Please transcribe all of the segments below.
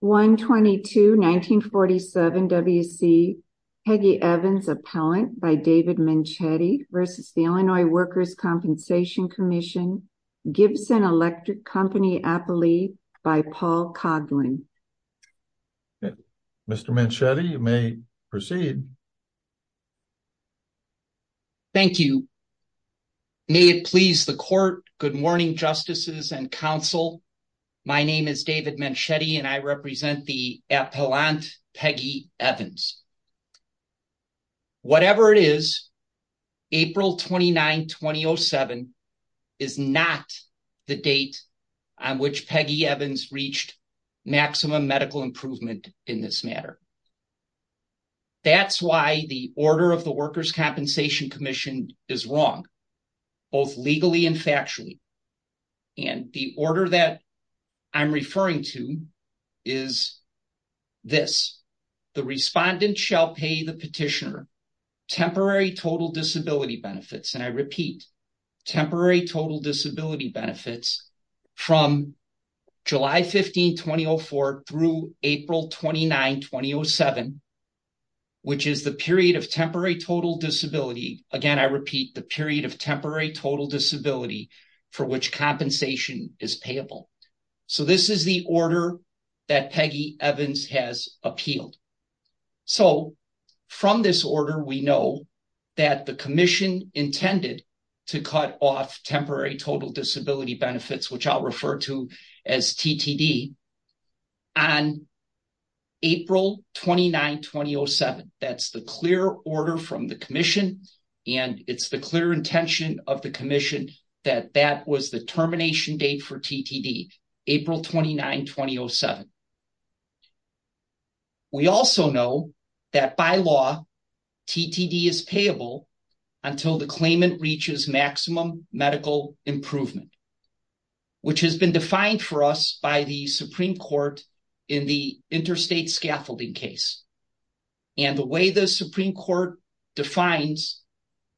122 1947 W.C. Peggy Evans, Appellant by David Menchetti v. The Illinois Workers' Compensation Commission, Gibson Electric Company Appellee by Paul Coghlan. Mr. Menchetti, you may proceed. Thank you. May it please the Court, good morning, Justices and Council. My name is David Menchetti and I represent the Appellant Peggy Evans. Whatever it is, April 29, 2007 is not the date on which Peggy Evans reached maximum medical improvement in this matter. That's why the order of the Workers' Compensation Commission is wrong, both legally and factually, and the order that I'm referring to is this. The respondent shall pay the petitioner temporary total disability benefits, and I repeat, temporary total disability benefits from July 15, 2004 through April 29, 2007, which is the period of temporary total disability. Again, I repeat, the period of temporary total disability for which compensation is payable. This is the order that Peggy Evans has appealed. From this order, we know that the Commission intended to cut off temporary total disability benefits, which I'll refer to as TTD, on April 29, 2007. That's the clear order from the Commission and it's the clear intention of the Commission that that was the termination date for TTD, April 29, 2007. We also know that by law, TTD is payable until the claimant reaches maximum medical improvement, which has been defined for us by the Supreme Court in the interstate scaffolding case. The way the Supreme Court defines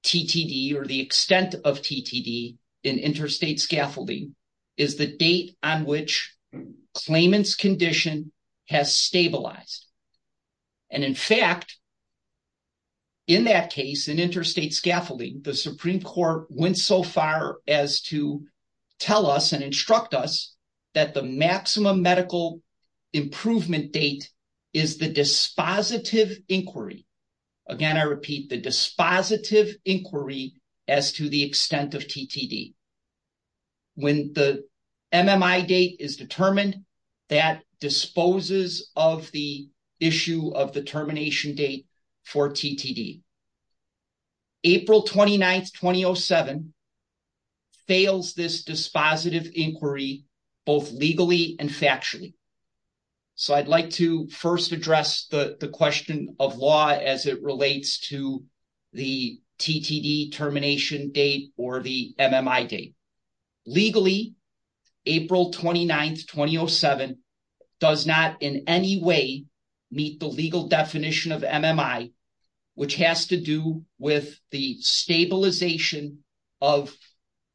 TTD or the extent of TTD in interstate scaffolding is the date on which the claimant's condition has stabilized. In fact, in that case, interstate scaffolding, the Supreme Court went so far as to tell us and instruct us that the maximum medical improvement date is the dispositive inquiry. Again, I repeat, the dispositive inquiry as to the extent of TTD. When the MMI date is determined, that disposes of the issue of the termination date for TTD. April 29, 2007 fails this dispositive inquiry both legally and factually. So, I'd like to first address the fact that April 29, 2007 does not in any way meet the legal definition of MMI, which has to do with the stabilization of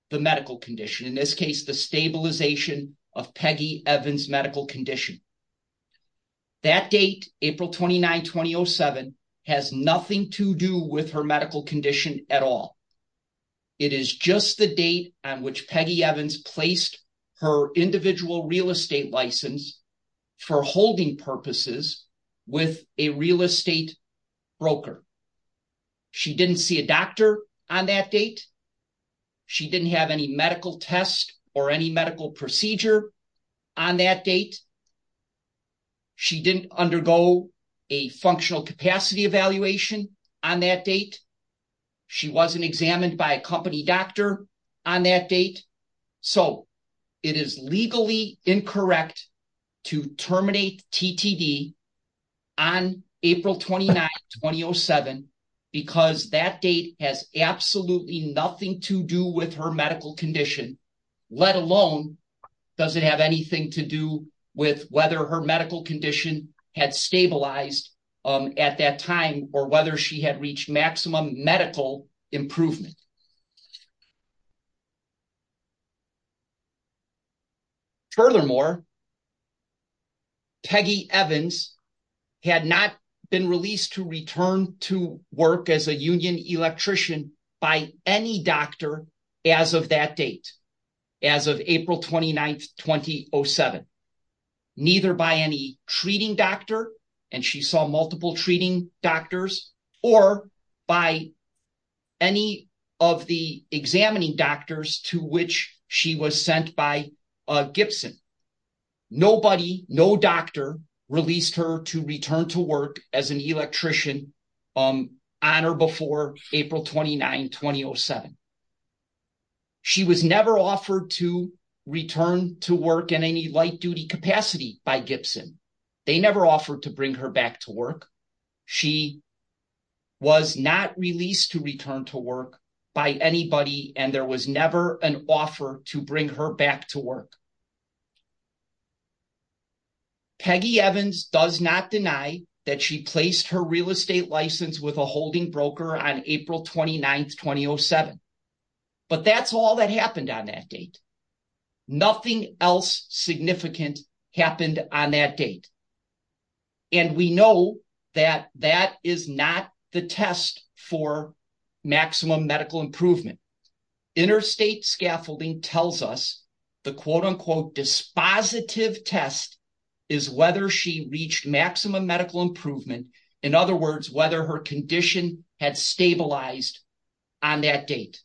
the medical condition. In this case, the stabilization of Peggy Evans' medical condition. That date, April 29, 2007, has nothing to do with her medical condition at all. It is just the date on which Peggy Evans placed her individual real estate license for holding purposes with a real estate broker. She didn't see a doctor on that date. She didn't have any medical test or any medical procedure on that date. She didn't undergo a functional capacity evaluation on that date. She wasn't examined by a company doctor on that date. So, it is legally incorrect to terminate TTD on April 29, 2007, because that date has absolutely nothing to do with her medical condition, let alone does it have anything to do with whether her medical condition had stabilized at that time or whether she had reached maximum medical improvement. Furthermore, Peggy Evans had not been released to return to work as a union electrician by any doctor as of that date, as of April 29, 2007, neither by any treating doctor, and she saw multiple treating doctors, or by any of the examining doctors to which she was sent by a Gibson. Nobody, no doctor, released her to return to work as an electrician on or before April 29, 2007. She was never offered to return to work in any light duty capacity by Gibson. They never offered to bring her back to work. She was not released to return to work by anybody, and there was never an offer to bring her back to work. Peggy Evans does not deny that she placed her real estate license with a holding broker on April 29, 2007, but that's all that happened on that date. Nothing else significant happened on that date, and we know that that is not the test for maximum medical improvement. Interstate scaffolding tells us the quote-unquote dispositive test is whether she reached maximum medical improvement, in other words, whether her condition had stabilized on that date,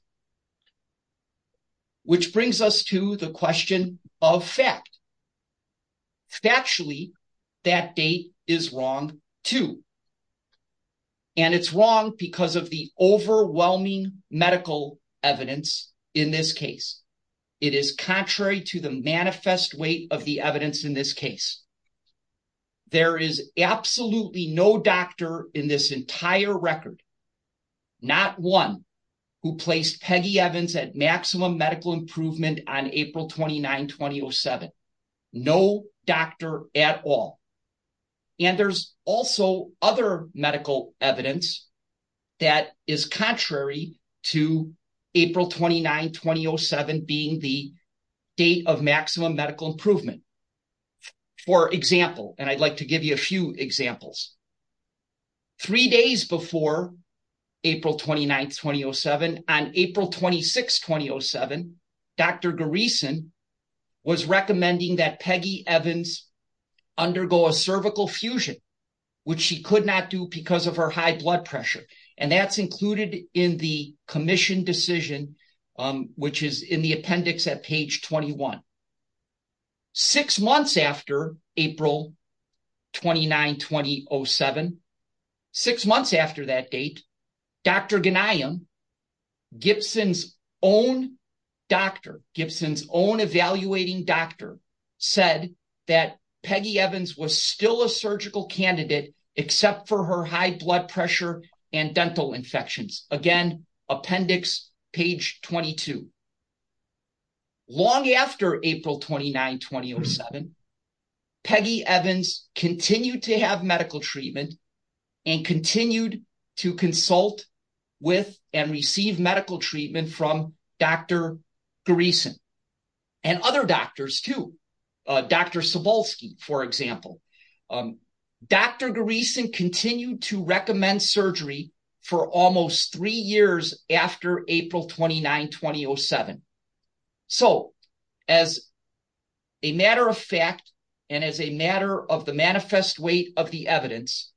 which brings us to the question of fact. Factually, that date is wrong too, and it's wrong because of the overwhelming medical evidence in this case. It is contrary to the manifest weight of the evidence in this case. There is absolutely no doctor in this entire record, not one, who placed Peggy Evans at maximum medical improvement on April 29, 2007. No doctor at all, and there's also other medical evidence that is contrary to April 29, 2007 being the date of maximum medical improvement. For example, and I'd like to give you a few examples, three days before April 29, 2007, on April 26, 2007, Dr. Giresan was recommending that Peggy Evans undergo a cervical fusion, which she could not do because of her high blood pressure, and that's included in the commission decision, which is in the appendix at page 21. Six months after April 29, 2007, six months after that date, Dr. Giresan, Gibson's own doctor, Gibson's own evaluating doctor, said that Peggy Evans was still a surgical candidate except for her high blood pressure and dental infections. Again, appendix page 22. Long after April 29, 2007, Peggy Evans continued to have medical treatment and continued to consult with and receive medical treatment from Dr. Giresan and other doctors too, Dr. Cebulski, for example. Dr. Giresan continued to recommend surgery for almost three years after April 29, 2007. So, as a matter of fact, and as a matter of the manifest weight of the evidence,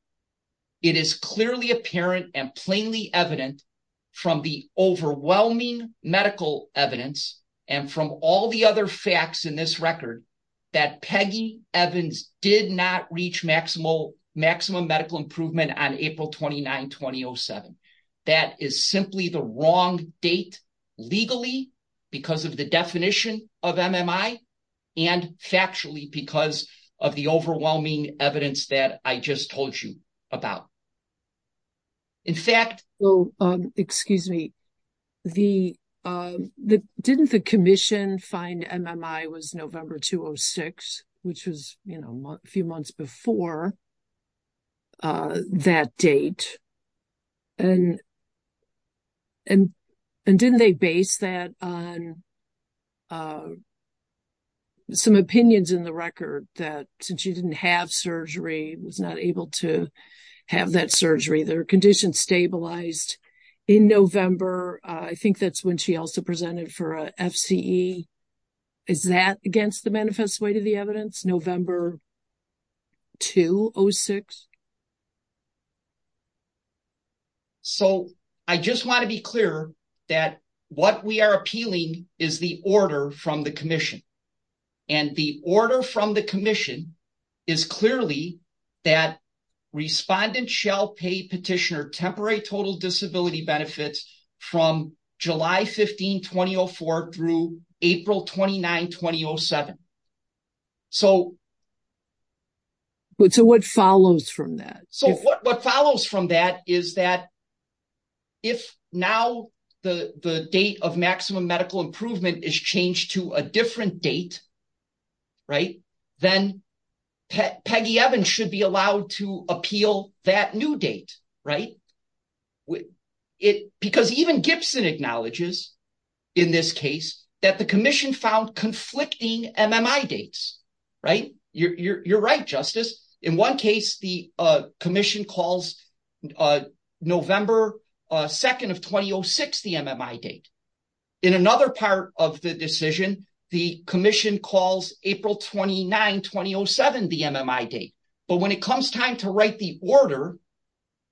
it is clearly apparent and plainly evident from the overwhelming medical evidence and from all the other facts in this record that Peggy Evans did not reach maximum medical improvement on the wrong date legally because of the definition of MMI and factually because of the overwhelming evidence that I just told you about. In fact, excuse me, didn't the commission find MMI was and didn't they base that on some opinions in the record that since she didn't have surgery, was not able to have that surgery, their condition stabilized in November? I think that's when she also presented for a FCE. Is that against the manifest weight of the evidence, November 2, 2006? So, I just want to be clear that what we are appealing is the order from the commission. And the order from the commission is clearly that respondents shall pay petitioner total disability benefits from July 15, 2004 through April 29, 2007. So, so what follows from that? So, what follows from that is that if now the date of maximum medical improvement is changed to a different date, right, then Peggy Evans should be allowed to appeal that new date, right? Because even Gibson acknowledges in this case that the commission found conflicting MMI dates, right? You're right, Justice. In one case, the commission calls November 2, 2006 the MMI date. In another part of the decision, the commission calls April 29, 2007 the MMI date. But when it comes time to write the order,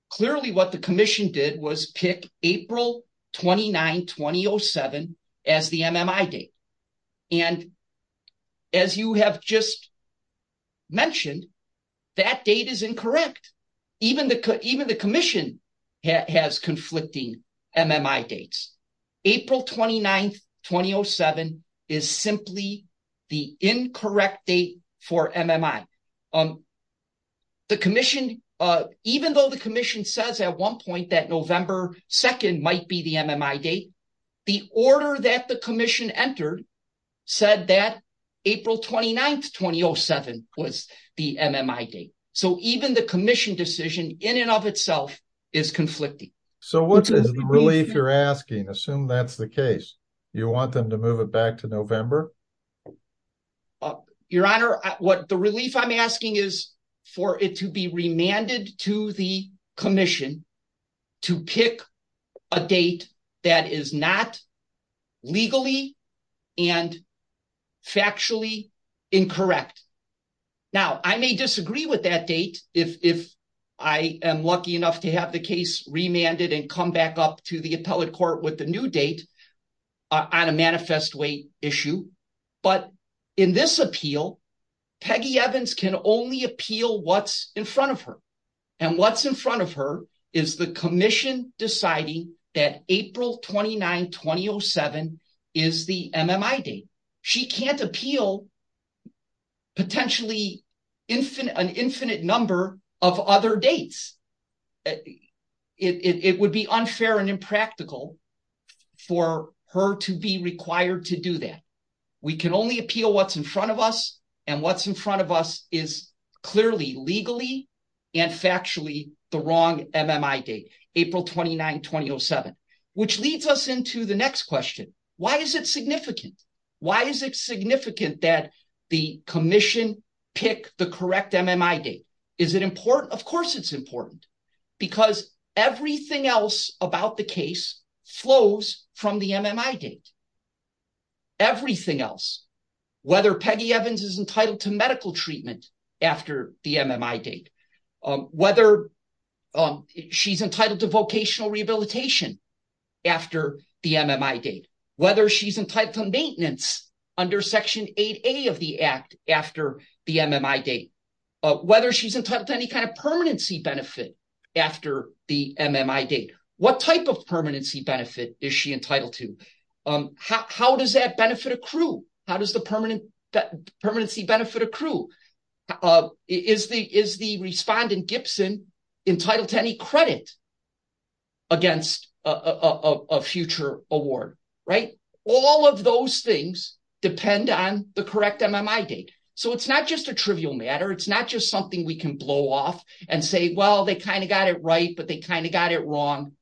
clearly what the commission did was pick April 29, 2007 as the MMI date. And as you have just mentioned, that date is incorrect. Even the commission has conflicting MMI dates. April 29, 2007 is simply the incorrect date for MMI. The commission, even though the commission says at one point that November 2 might be the MMI date, the order that the commission entered said that April 29, 2007 was the MMI date. So, even the commission decision in and of itself is conflicting. So, what is the relief you're asking? Assume that's the case. You want them to move it back to November? Your Honor, what the relief I'm asking is for it to be remanded to the commission to pick a date that is not legally and factually incorrect. Now, I may disagree with that date if I am lucky enough to have the case remanded and come back up to the appellate court with the new date on a manifest way issue. But in this appeal, Peggy Evans can only appeal what's in front of her. And what's in front of her is the commission deciding that April 29, 2007 is the MMI date. She can't appeal potentially an infinite number of other dates. It would be unfair and impractical for her to be required to do that. We can only appeal what's us and what's in front of us is clearly legally and factually the wrong MMI date, April 29, 2007. Which leads us into the next question. Why is it significant? Why is it significant that the commission pick the correct MMI date? Is it important? Of course, it's important. Because everything else about the case flows from the MMI date. Everything else, whether Peggy Evans is entitled to medical treatment after the MMI date, whether she's entitled to vocational rehabilitation after the MMI date, whether she's entitled to maintenance under Section 8A of the Act after the MMI date, whether she's entitled to any kind of permanency benefit after the MMI date. What type of permanency benefit is she entitled to? How does that benefit accrue? How does the permanency benefit accrue? Is the respondent, Gibson, entitled to any credit against a future award? All of those things depend on the correct MMI date. It's not just a trivial matter. It's not just something we can blow off and say, well, they kind of got it right, but they kind of got it wrong.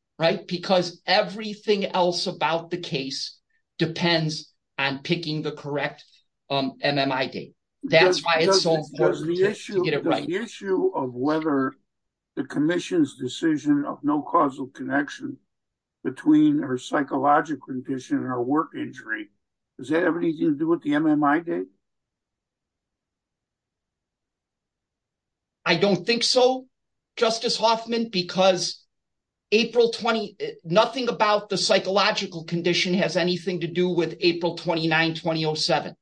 Because everything else about the case depends on picking the correct MMI date. That's why it's so important to get it right. The issue of whether the commission's decision of no causal connection between her psychological condition and her work injury, does that have anything to do with the MMI date? I don't think so, Justice Hoffman, because nothing about the psychological condition has anything to do with April 29, 2007.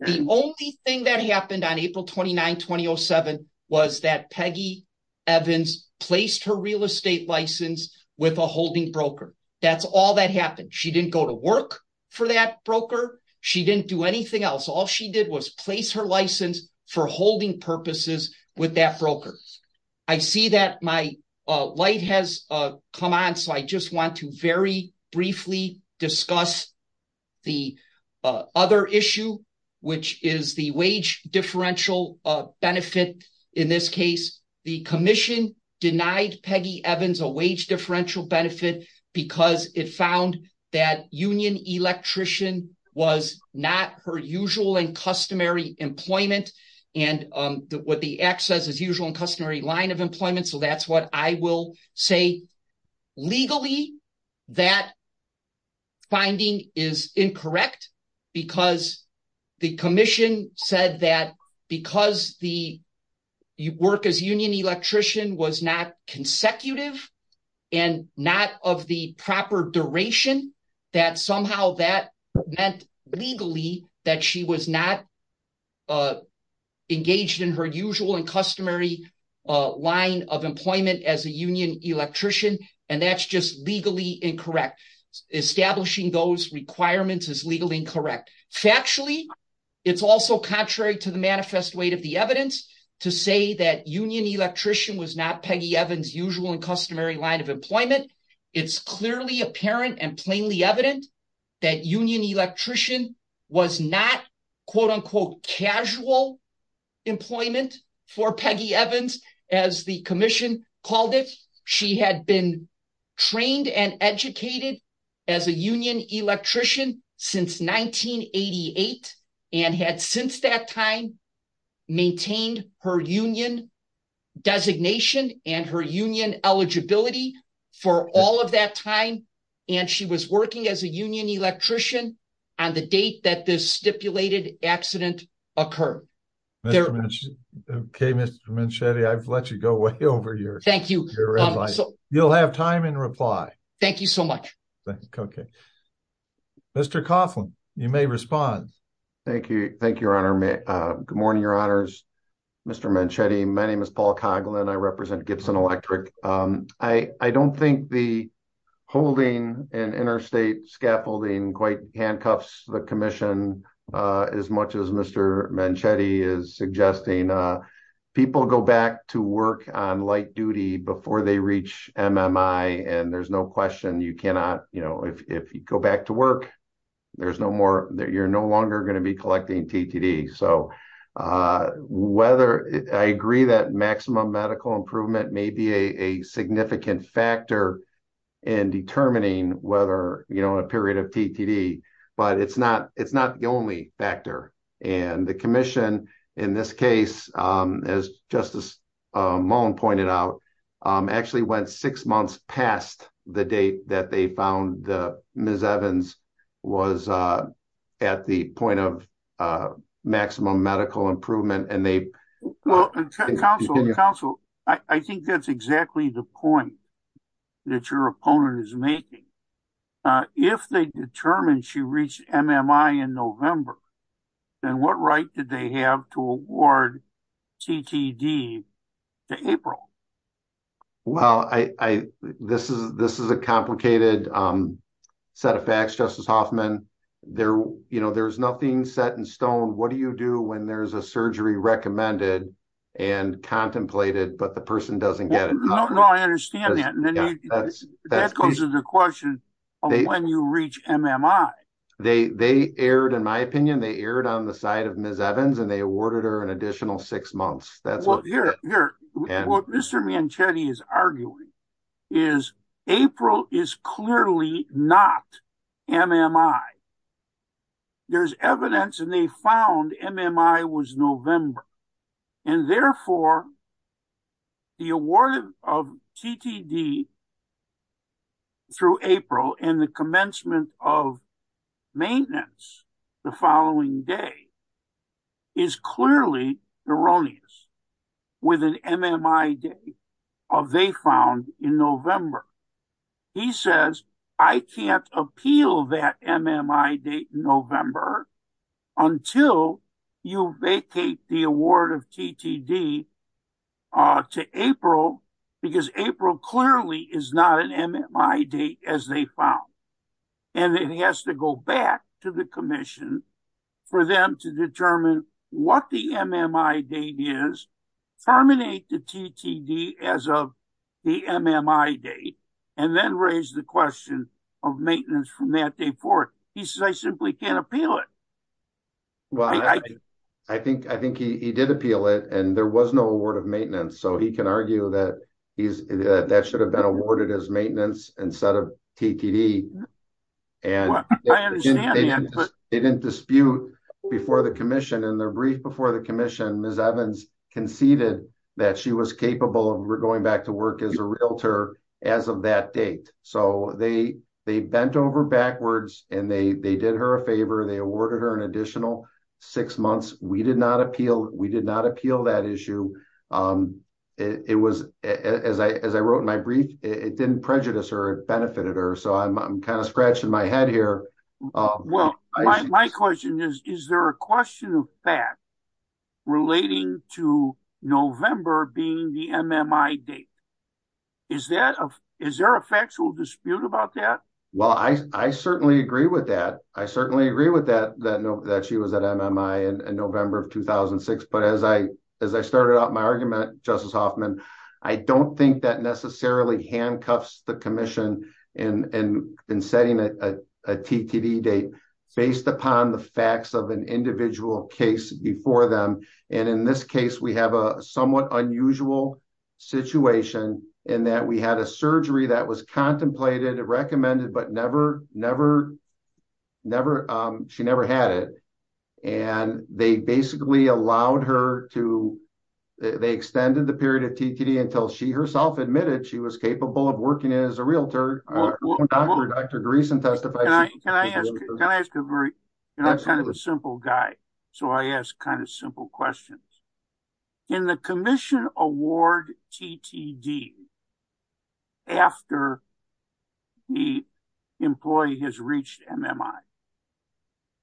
The only thing that happened on April 29, 2007, was that Peggy Evans placed her real estate license with a holding broker. That's all that happened. She didn't go to work for that broker. She didn't do anything else. All she did was place her license for holding purposes with that broker. I see that my light has come on, so I just want to very briefly discuss the other issue, which is the wage differential benefit. In this case, the commission denied Peggy Evans a wage differential benefit, because it found that Union Electrician was not her usual and customary employment. What the act says is usual and customary line of employment. That's what I will say. Legally, that finding is incorrect, because the commission said that because the work as Union Electrician was not consecutive and not of the proper duration, that somehow that meant legally that she was not engaged in her usual and customary line of employment as a Union Electrician. That's just legally incorrect. Establishing those requirements is legally incorrect. Factually, it's also contrary to the manifest weight of the evidence to say that Union Electrician was not Peggy Evans' usual and customary line of employment. It's clearly apparent and plainly evident that Union Electrician was not casual employment for Peggy Evans, as the commission called it. She had been trained and educated as a Union Electrician since 1988, and had since that time maintained her Union designation and her Union eligibility for all of that time. She was working as a Union Electrician on the date that this stipulated accident occurred. Okay, Mr. Manchetti, I've let you go way over your Thank you. You'll have time in reply. Thank you so much. Okay. Mr. Coughlin, you may respond. Thank you. Thank you, Your Honor. Good morning, Your Honors. Mr. Manchetti, my name is Paul Coughlin. I represent Gibson Electric. I don't think the holding and interstate scaffolding quite handcuffs the commission as much as Mr. Manchetti is suggesting. People go back to work on light duty before they reach MMI, and there's no question you cannot, you know, if you go back to work, there's no more, you're no longer going to be collecting TTD. So, whether I agree that maximum medical improvement may be a significant factor in determining whether, you know, a period of TTD, but it's not, it's not the only factor. And the commission, in this case, as Justice Mullen pointed out, actually went six months past the date that they found the Ms. Evans was at the point of maximum medical improvement and they Well, counsel, counsel, I think that's exactly the point that your opponent is making. If they determine she reached MMI in November, then what right did they have to award TTD to April? Well, I, this is, this is a complicated set of facts, Justice Hoffman. There, you know, there's nothing set in stone. What do you do when there's a surgery recommended and contemplated, but the person doesn't get it? No, no, I understand that. That goes to the question of when you reach MMI. They, they erred, in my opinion, they erred on the side of Ms. Evans and they awarded her an additional six months. That's what What Mr. Manchetti is arguing is April is clearly not MMI. There's evidence and they found MMI was November. And therefore, the award of TTD through April and the commencement of maintenance the following day is clearly erroneous. With an MMI date they found in November. He says, I can't appeal that MMI date in November until you vacate the award of TTD to April, because April clearly is not an MMI date as they found. And it has to go back to the commission for them to determine what the MMI date is. Terminate the TTD as of the MMI date, and then raise the question of maintenance from that day forth. He says, I simply can't appeal it. Well, I think I think he did appeal it and there was no award of maintenance. So he can argue that he's that should have been awarded as maintenance instead of TTD. And they didn't dispute before the commission in the brief before the commission, Ms. Evans conceded that she was capable of going back to work as a realtor as of that date. So they they bent over backwards and they did her a favor. They awarded her an additional six months. We did not appeal. We did not appeal that issue. It was as I wrote in my brief, it didn't prejudice her, it benefited her. So I'm kind of scratching my head here. Well, my question is, is there a question of fact relating to November being the MMI date? Is there a factual dispute about that? Well, I certainly agree with that. I certainly agree with that, that she was at MMI in November of 2006. But as I started out my argument, Justice Hoffman, I don't think that necessarily handcuffs the commission in setting a TTD date based upon the facts of an individual case before them. And in this case, we have a somewhat unusual situation in that we had a surgery that was contemplated and recommended, but never, never, she never had it. And they basically allowed her to, they extended the period of TTD until she herself admitted she was capable of working as a realtor. Dr. Greeson testified. Can I ask a very, you know, kind of a simple guy. So I ask kind of simple questions. Can the commission award TTD after the employee has reached MMI?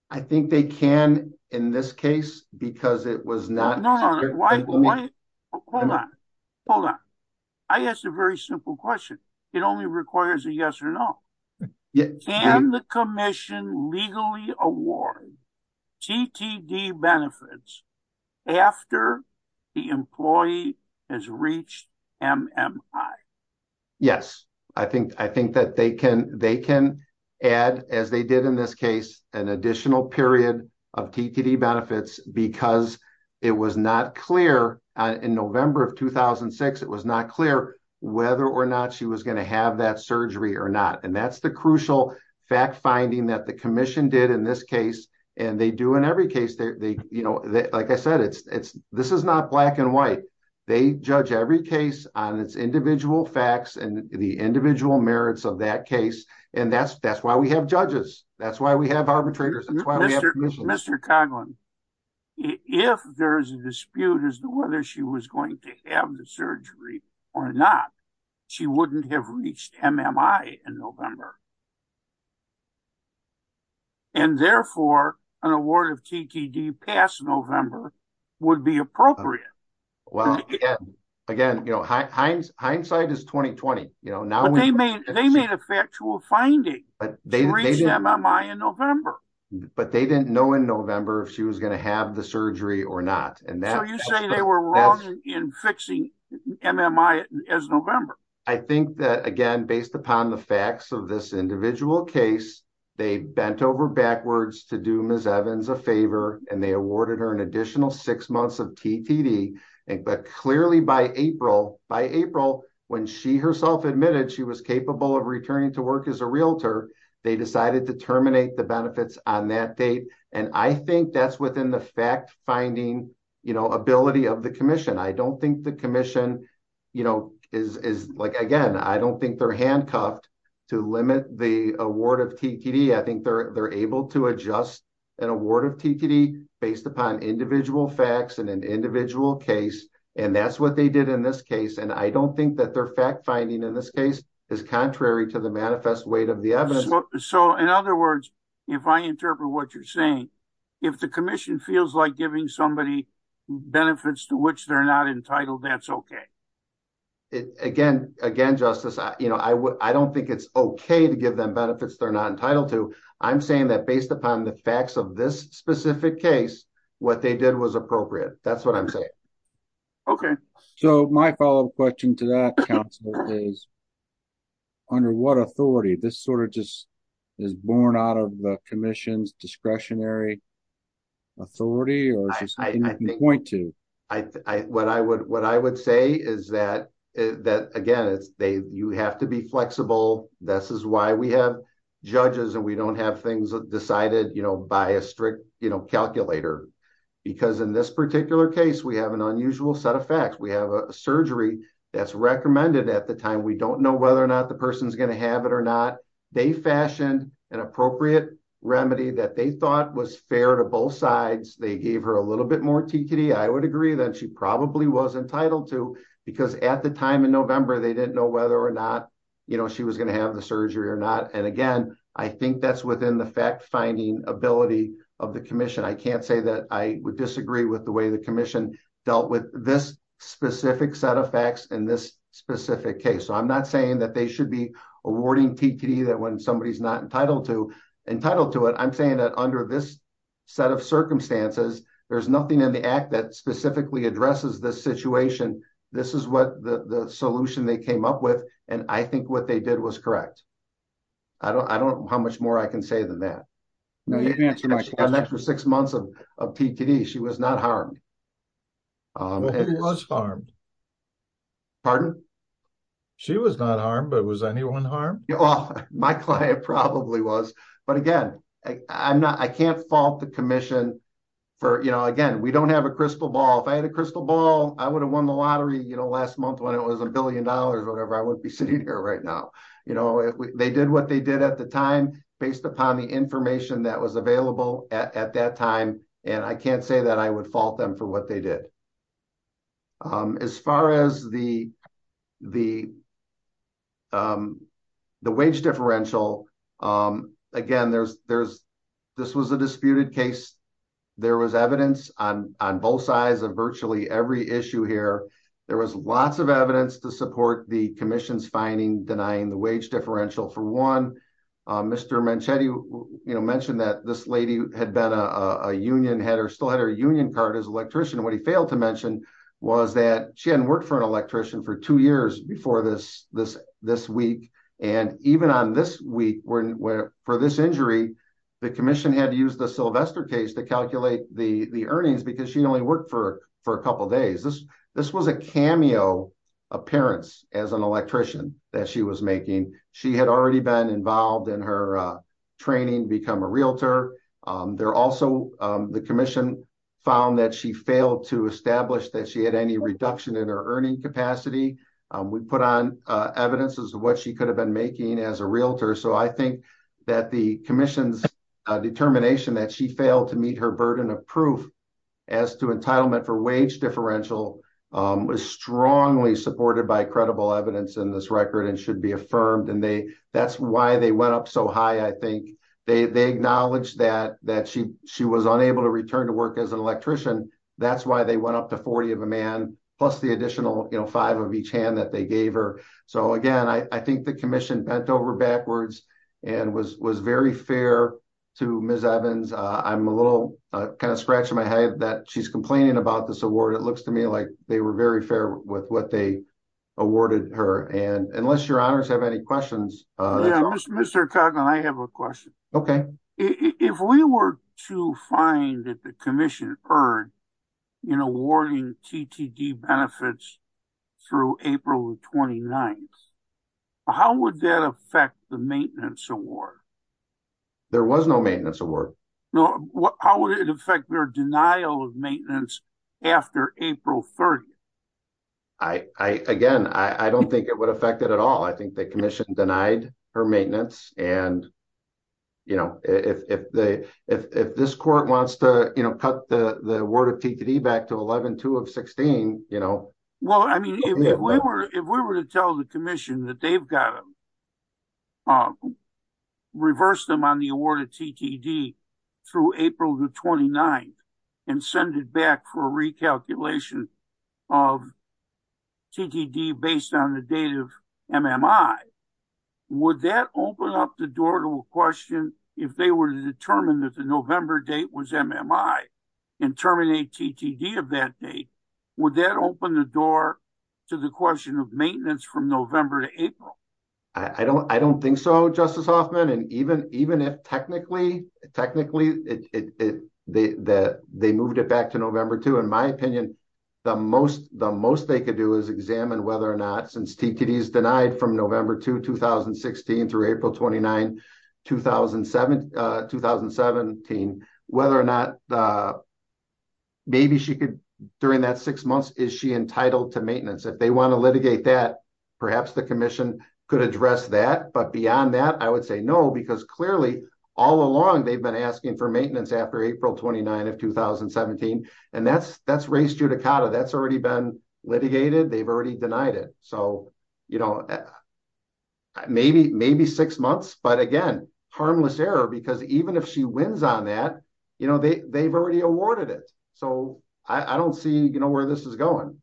I think they can in this case, because it was not... Hold on, hold on. I asked a very simple question. It only requires a yes or no. Can the commission legally award TTD benefits after the employee has reached MMI? Yes. I think that they can add, as they did in this case, an additional period of TTD benefits because it was not clear in November of 2006, it was not clear whether or not she was going to have that surgery or not. And that's the crucial fact finding that the commission did in this case. And they do in every case they, you know, like I said, it's, this is not black and white. They judge every case on its individual facts and the individual merits of that case. And that's, that's why we have judges. That's why we have arbitrators. That's why we have commissioners. Mr. Coughlin, if there is a dispute as to whether she was going to have the surgery or not, she wouldn't have reached MMI in November. And therefore, an award of TTD past November would be appropriate. Well, again, you know, hindsight is 20-20, you know. But they made a factual finding to reach MMI in November. But they didn't know in November if she was going to have the surgery or not. So you're saying they were wrong in fixing MMI as November? I think that, again, based upon the facts of this individual case, they bent over backwards to do Ms. Evans a favor, and they awarded her an additional six months of TTD. But clearly by April, when she herself admitted she was capable of returning to work as a realtor, they decided to terminate the benefits on that date. And I think that's the fact-finding ability of the commission. I don't think the commission, you know, like, again, I don't think they're handcuffed to limit the award of TTD. I think they're able to adjust an award of TTD based upon individual facts in an individual case. And that's what they did in this case. And I don't think that their fact-finding in this case is contrary to the manifest weight of the evidence. So, in other words, if I interpret what you're saying, if the commission feels like giving somebody benefits to which they're not entitled, that's okay. Again, Justice, you know, I don't think it's okay to give them benefits they're not entitled to. I'm saying that based upon the facts of this specific case, what they did was appropriate. That's what I'm saying. Okay. So my follow-up question to that, counsel, is under what authority? This sort of just is born out of the commission's discretionary authority or is there something you can point to? What I would say is that, again, you have to be flexible. This is why we have judges and we don't have things decided, you know, by a strict, you know, calculator. Because in this particular case, we have an unusual set of facts. We have surgery that's recommended at the time. We don't know whether or not the person is going to have it or not. They fashioned an appropriate remedy that they thought was fair to both sides. They gave her a little bit more TKD, I would agree, than she probably was entitled to. Because at the time in November, they didn't know whether or not, you know, she was going to have the surgery or not. And again, I think that's within the fact-finding ability of the commission. I can't this specific set of facts in this specific case. So I'm not saying that they should be awarding TKD that when somebody's not entitled to it. I'm saying that under this set of circumstances, there's nothing in the act that specifically addresses this situation. This is what the solution they came up with. And I think what they did was correct. I don't know how much more I can say than that. She got an extra six months of TKD. She was not harmed. She was not harmed, but was anyone harmed? My client probably was. But again, I can't fault the commission for, you know, again, we don't have a crystal ball. If I had a crystal ball, I would have won the lottery, you know, last month when it was a billion dollars, whatever. I wouldn't be sitting here right now. You know, they did what they did at the time based upon the information that was available at that time. And I can't say that I would fault them for what they did. As far as the wage differential, again, this was a disputed case. There was evidence on both sides of virtually every issue here. There was lots of evidence to support the commission's denying the wage differential for one. Mr. Manchetti mentioned that this lady had been a union head or still had her union card as an electrician. What he failed to mention was that she hadn't worked for an electrician for two years before this week. And even on this week for this injury, the commission had used the Sylvester case to calculate the earnings because she only worked for a couple of days. This was a cameo appearance as an electrician that she was making. She had already been involved in her training to become a realtor. There also, the commission found that she failed to establish that she had any reduction in her earning capacity. We put on evidence as to what she could have been making as a realtor. So I think that the entitlement for wage differential was strongly supported by credible evidence in this record and should be affirmed. That's why they went up so high. They acknowledged that she was unable to return to work as an electrician. That's why they went up to 40 of a man plus the additional five of each hand that they gave her. So again, I think the commission bent over backwards and was complaining about this award. It looks to me like they were very fair with what they awarded her. Unless your honors have any questions. Mr. Coughlin, I have a question. Okay. If we were to find that the commission earned in awarding TTD benefits through April 29th, how would that affect the maintenance award? There was no maintenance award. How would it affect their denial of maintenance after April 30th? Again, I don't think it would affect it at all. I think the commission denied her maintenance. If this court wants to cut the award of TTD back to 11-2 of 16. Well, I mean, if we were to tell the commission that they've got to reverse them on the award of TTD through April 29th and send it back for a recalculation of TTD based on the date of MMI, would that open up the door to a question if they were to determine that the November date was MMI and terminate TTD of that date? Would that open the door to the question of maintenance from November to April? I don't think so, Justice Hoffman. And even if technically they moved it back to November 2, in my opinion, the most they could do is examine whether or not since TTD is denied from November 2, 2016 through April 29, 2017, whether or not maybe she could during that six months, is she entitled to maintenance? If they want to litigate that, perhaps the commission could address that. But beyond that, I would say no, because clearly all along they've been asking for maintenance after April 29th of 2017. And that's raised judicata. That's already been litigated. They've already denied it. So, you know, maybe six months, but again, harmless error, because even if she wins on that, you know, they've already awarded it. So, I don't see, you know, where this is going.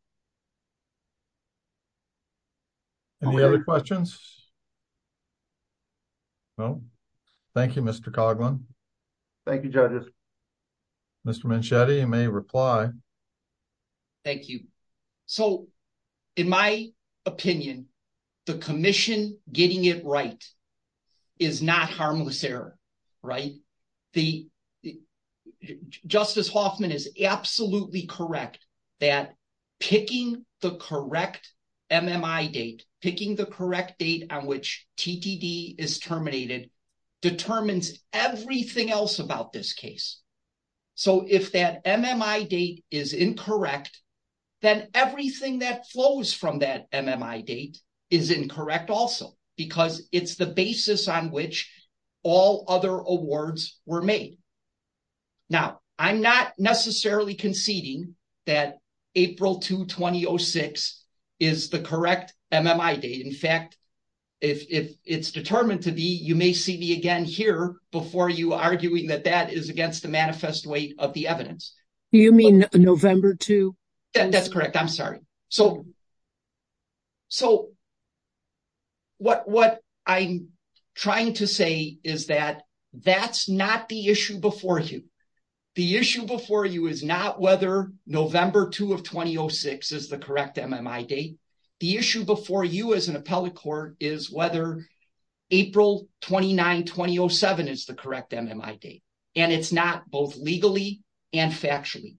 Any other questions? No. Thank you, Mr. Coughlin. Thank you, judges. Mr. Manchetti, you may reply. Thank you. So, in my opinion, the commission getting it right is not harmless error, right? Justice Hoffman is absolutely correct that picking the correct MMI date, picking the correct date on TTD is terminated, determines everything else about this case. So, if that MMI date is incorrect, then everything that flows from that MMI date is incorrect also, because it's the basis on which all other awards were made. Now, I'm not necessarily conceding that April 2, 2006 is the correct MMI date. In fact, if it's determined to be, you may see me again here before you arguing that that is against the manifest weight of the evidence. You mean November 2? That's correct. I'm sorry. So, what I'm trying to say is that that's not the issue before you. The issue before you is not November 2, 2006 is the correct MMI date. The issue before you as an appellate court is whether April 29, 2007 is the correct MMI date. And it's not both legally and factually.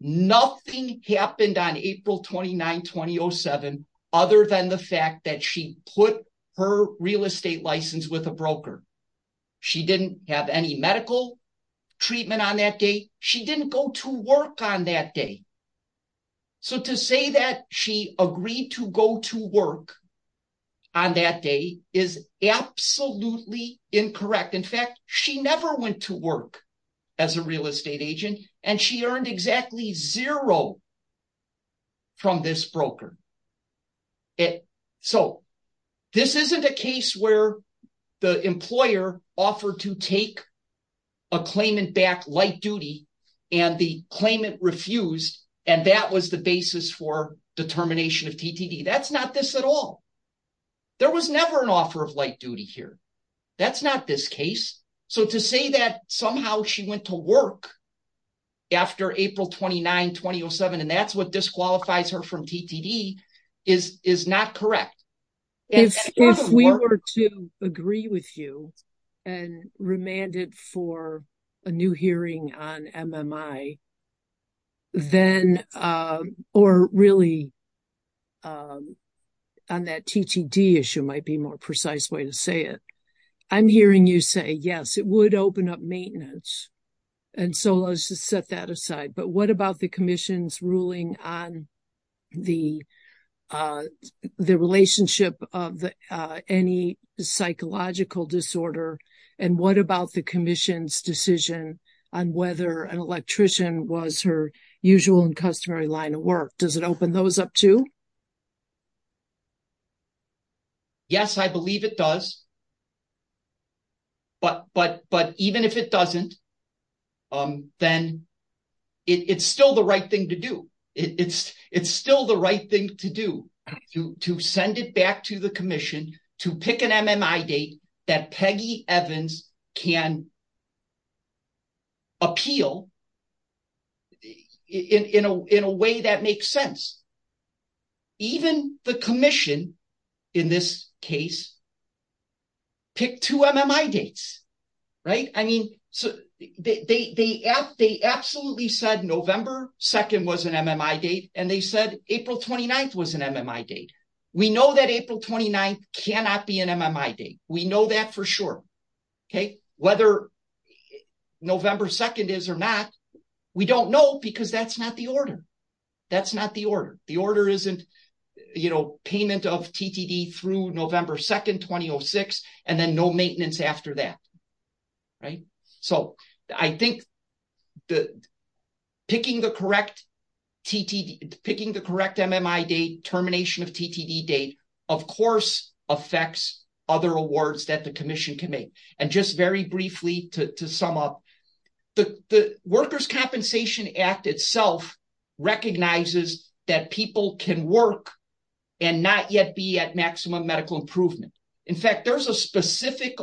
Nothing happened on April 29, 2007 other than the fact that she put her real estate license with a broker. She didn't have any medical treatment on that day. She didn't go to work on that day. So, to say that she agreed to go to work on that day is absolutely incorrect. In fact, she never went to work as a real estate agent, and she earned exactly zero from this broker. And so, this isn't a case where the employer offered to take a claimant back light duty, and the claimant refused, and that was the basis for determination of TTD. That's not this at all. There was never an offer of light duty here. That's not this case. So, to say that somehow she went to work after April 29, 2007, and that's what disqualifies her from TTD is not correct. If we were to agree with you and remanded for a new hearing on MMI, then or really on that TTD issue might be a more precise way to say it. I'm hearing you say, yes, it would open up maintenance. And so, let's just set that aside. But what about the commission's on the relationship of any psychological disorder? And what about the commission's decision on whether an electrician was her usual and customary line of work? Does it open those up too? Yes, I believe it does. But even if it doesn't, then it's still the right thing to do. It's still the right thing to do to send it back to the commission to pick an MMI date that Peggy Evans can appeal in a way that makes sense. Even the commission in this case picked two MMI dates, right? I mean, they absolutely said November 2nd was an MMI date, and they said April 29th was an MMI date. We know that April 29th cannot be an MMI date. We know that for sure, okay? Whether November 2nd is or not, we don't know because that's not the order. That's not the order. The order isn't payment of TTD through November 2nd, 2006, and then no maintenance after that, right? So, I think picking the correct MMI date, termination of TTD date, of course, affects other awards that the commission can make. And just very briefly to sum up, the Workers' Compensation Act itself recognizes that people can work and not yet be at maximum medical improvement. In fact, there's a specific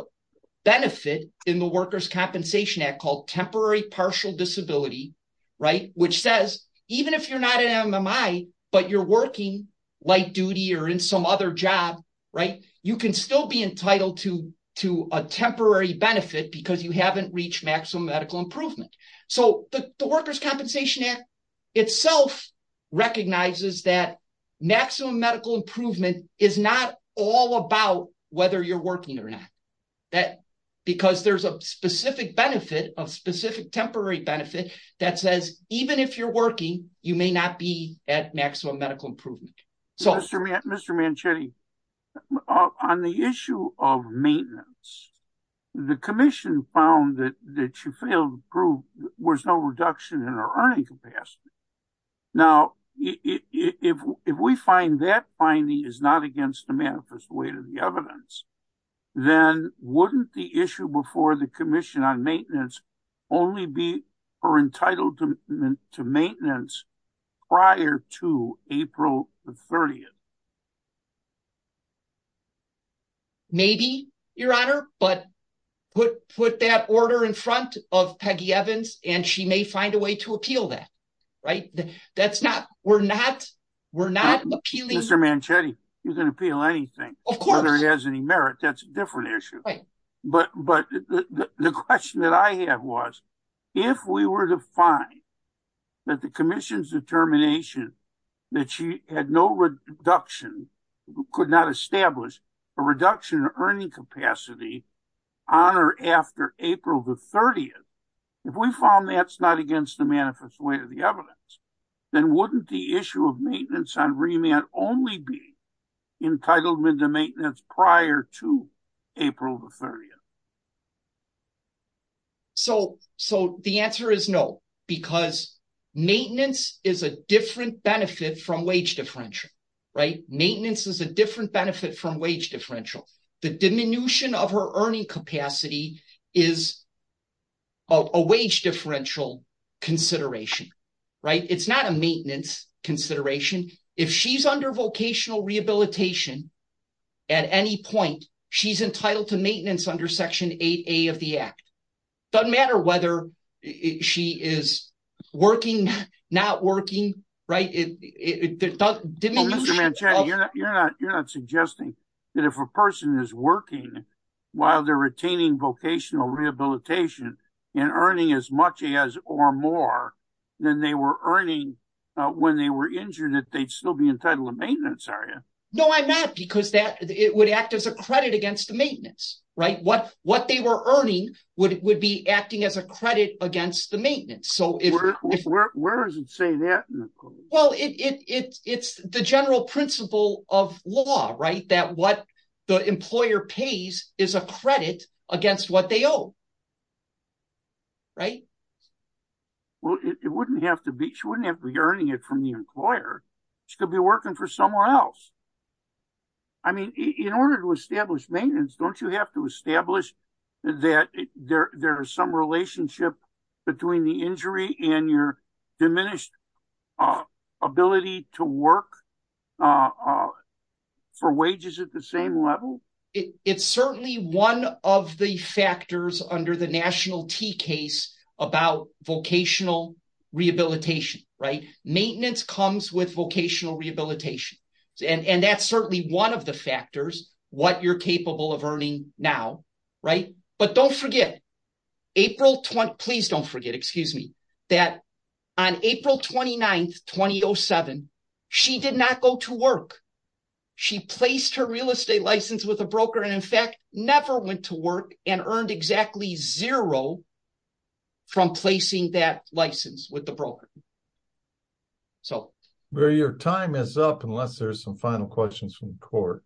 benefit in the Workers' Compensation Act called temporary partial disability, right, which says even if you're not an MMI, but you're working light duty or in some other job, right, you can still be entitled to a temporary benefit because you haven't reached maximum medical improvement. So, the Workers' Compensation Act itself recognizes that maximum medical improvement is not all about whether you're working or not. Because there's a specific benefit, a specific temporary benefit, that says even if you're working, you may not be at maximum medical improvement. Mr. Mancini, on the issue of that you failed to prove there's no reduction in our earning capacity. Now, if we find that finding is not against the manifest way to the evidence, then wouldn't the issue before the Commission on Maintenance only be for entitled to maintenance prior to April the 30th? Maybe, Your Honor, but put that order in front of Peggy Evans and she may find a way to appeal that, right? That's not, we're not, we're not appealing. Mr. Mancini, you can appeal anything. Of course. Whether it has any merit, that's a different issue. Right. But the question that I had was, if we were to find that the Commission's determination that she had no reduction in could not establish a reduction in earning capacity on or after April the 30th, if we found that's not against the manifest way of the evidence, then wouldn't the issue of maintenance on remand only be entitled to maintenance prior to April the 30th? So, so the answer is no, because maintenance is a different benefit from wage differential, right? Maintenance is a different benefit from wage differential. The diminution of her earning capacity is a wage differential consideration, right? It's not a maintenance consideration. If she's under vocational rehabilitation at any point, she's entitled to maintenance under Section 8A of the Act. It doesn't matter whether she is working, not working, right? You're not suggesting that if a person is working while they're retaining vocational rehabilitation and earning as much as or more than they were earning when they were injured, that they'd still be entitled to maintenance, are you? No, I'm not, because that, it would as a credit against the maintenance, right? What they were earning would be acting as a credit against the maintenance. So, where does it say that? Well, it's the general principle of law, right? That what the employer pays is a credit against what they owe, right? Well, it wouldn't have to be. She wouldn't have to be earning it from the employer. She could be working for someone else. I mean, in order to establish maintenance, don't you have to establish that there is some relationship between the injury and your diminished ability to work for wages at the same level? It's certainly one of the factors under the national T case about vocational rehabilitation, right? Maintenance comes with vocational rehabilitation. And that's certainly one of the factors, what you're capable of earning now, right? But don't forget, April 20, please don't forget, excuse me, that on April 29th, 2007, she did not go to work. She placed her real estate license with a broker and in fact, never went to work and earned exactly zero from placing that license with the broker. Mary, your time is up unless there's some final questions from the court.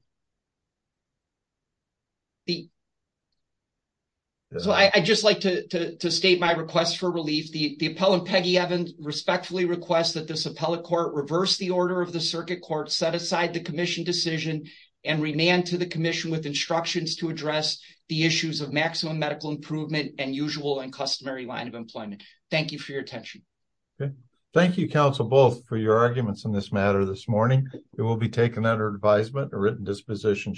So, I'd just like to state my request for relief. The appellant Peggy Evans respectfully requests that this appellate court reverse the order of the circuit court, set aside the commission decision and remand to the commission with instructions to address the issues of maximum medical improvement and usual and customary line of employment. Thank you for your attention. Thank you, counsel, both for your arguments on this matter this morning. It will be taken under advisement or written disposition.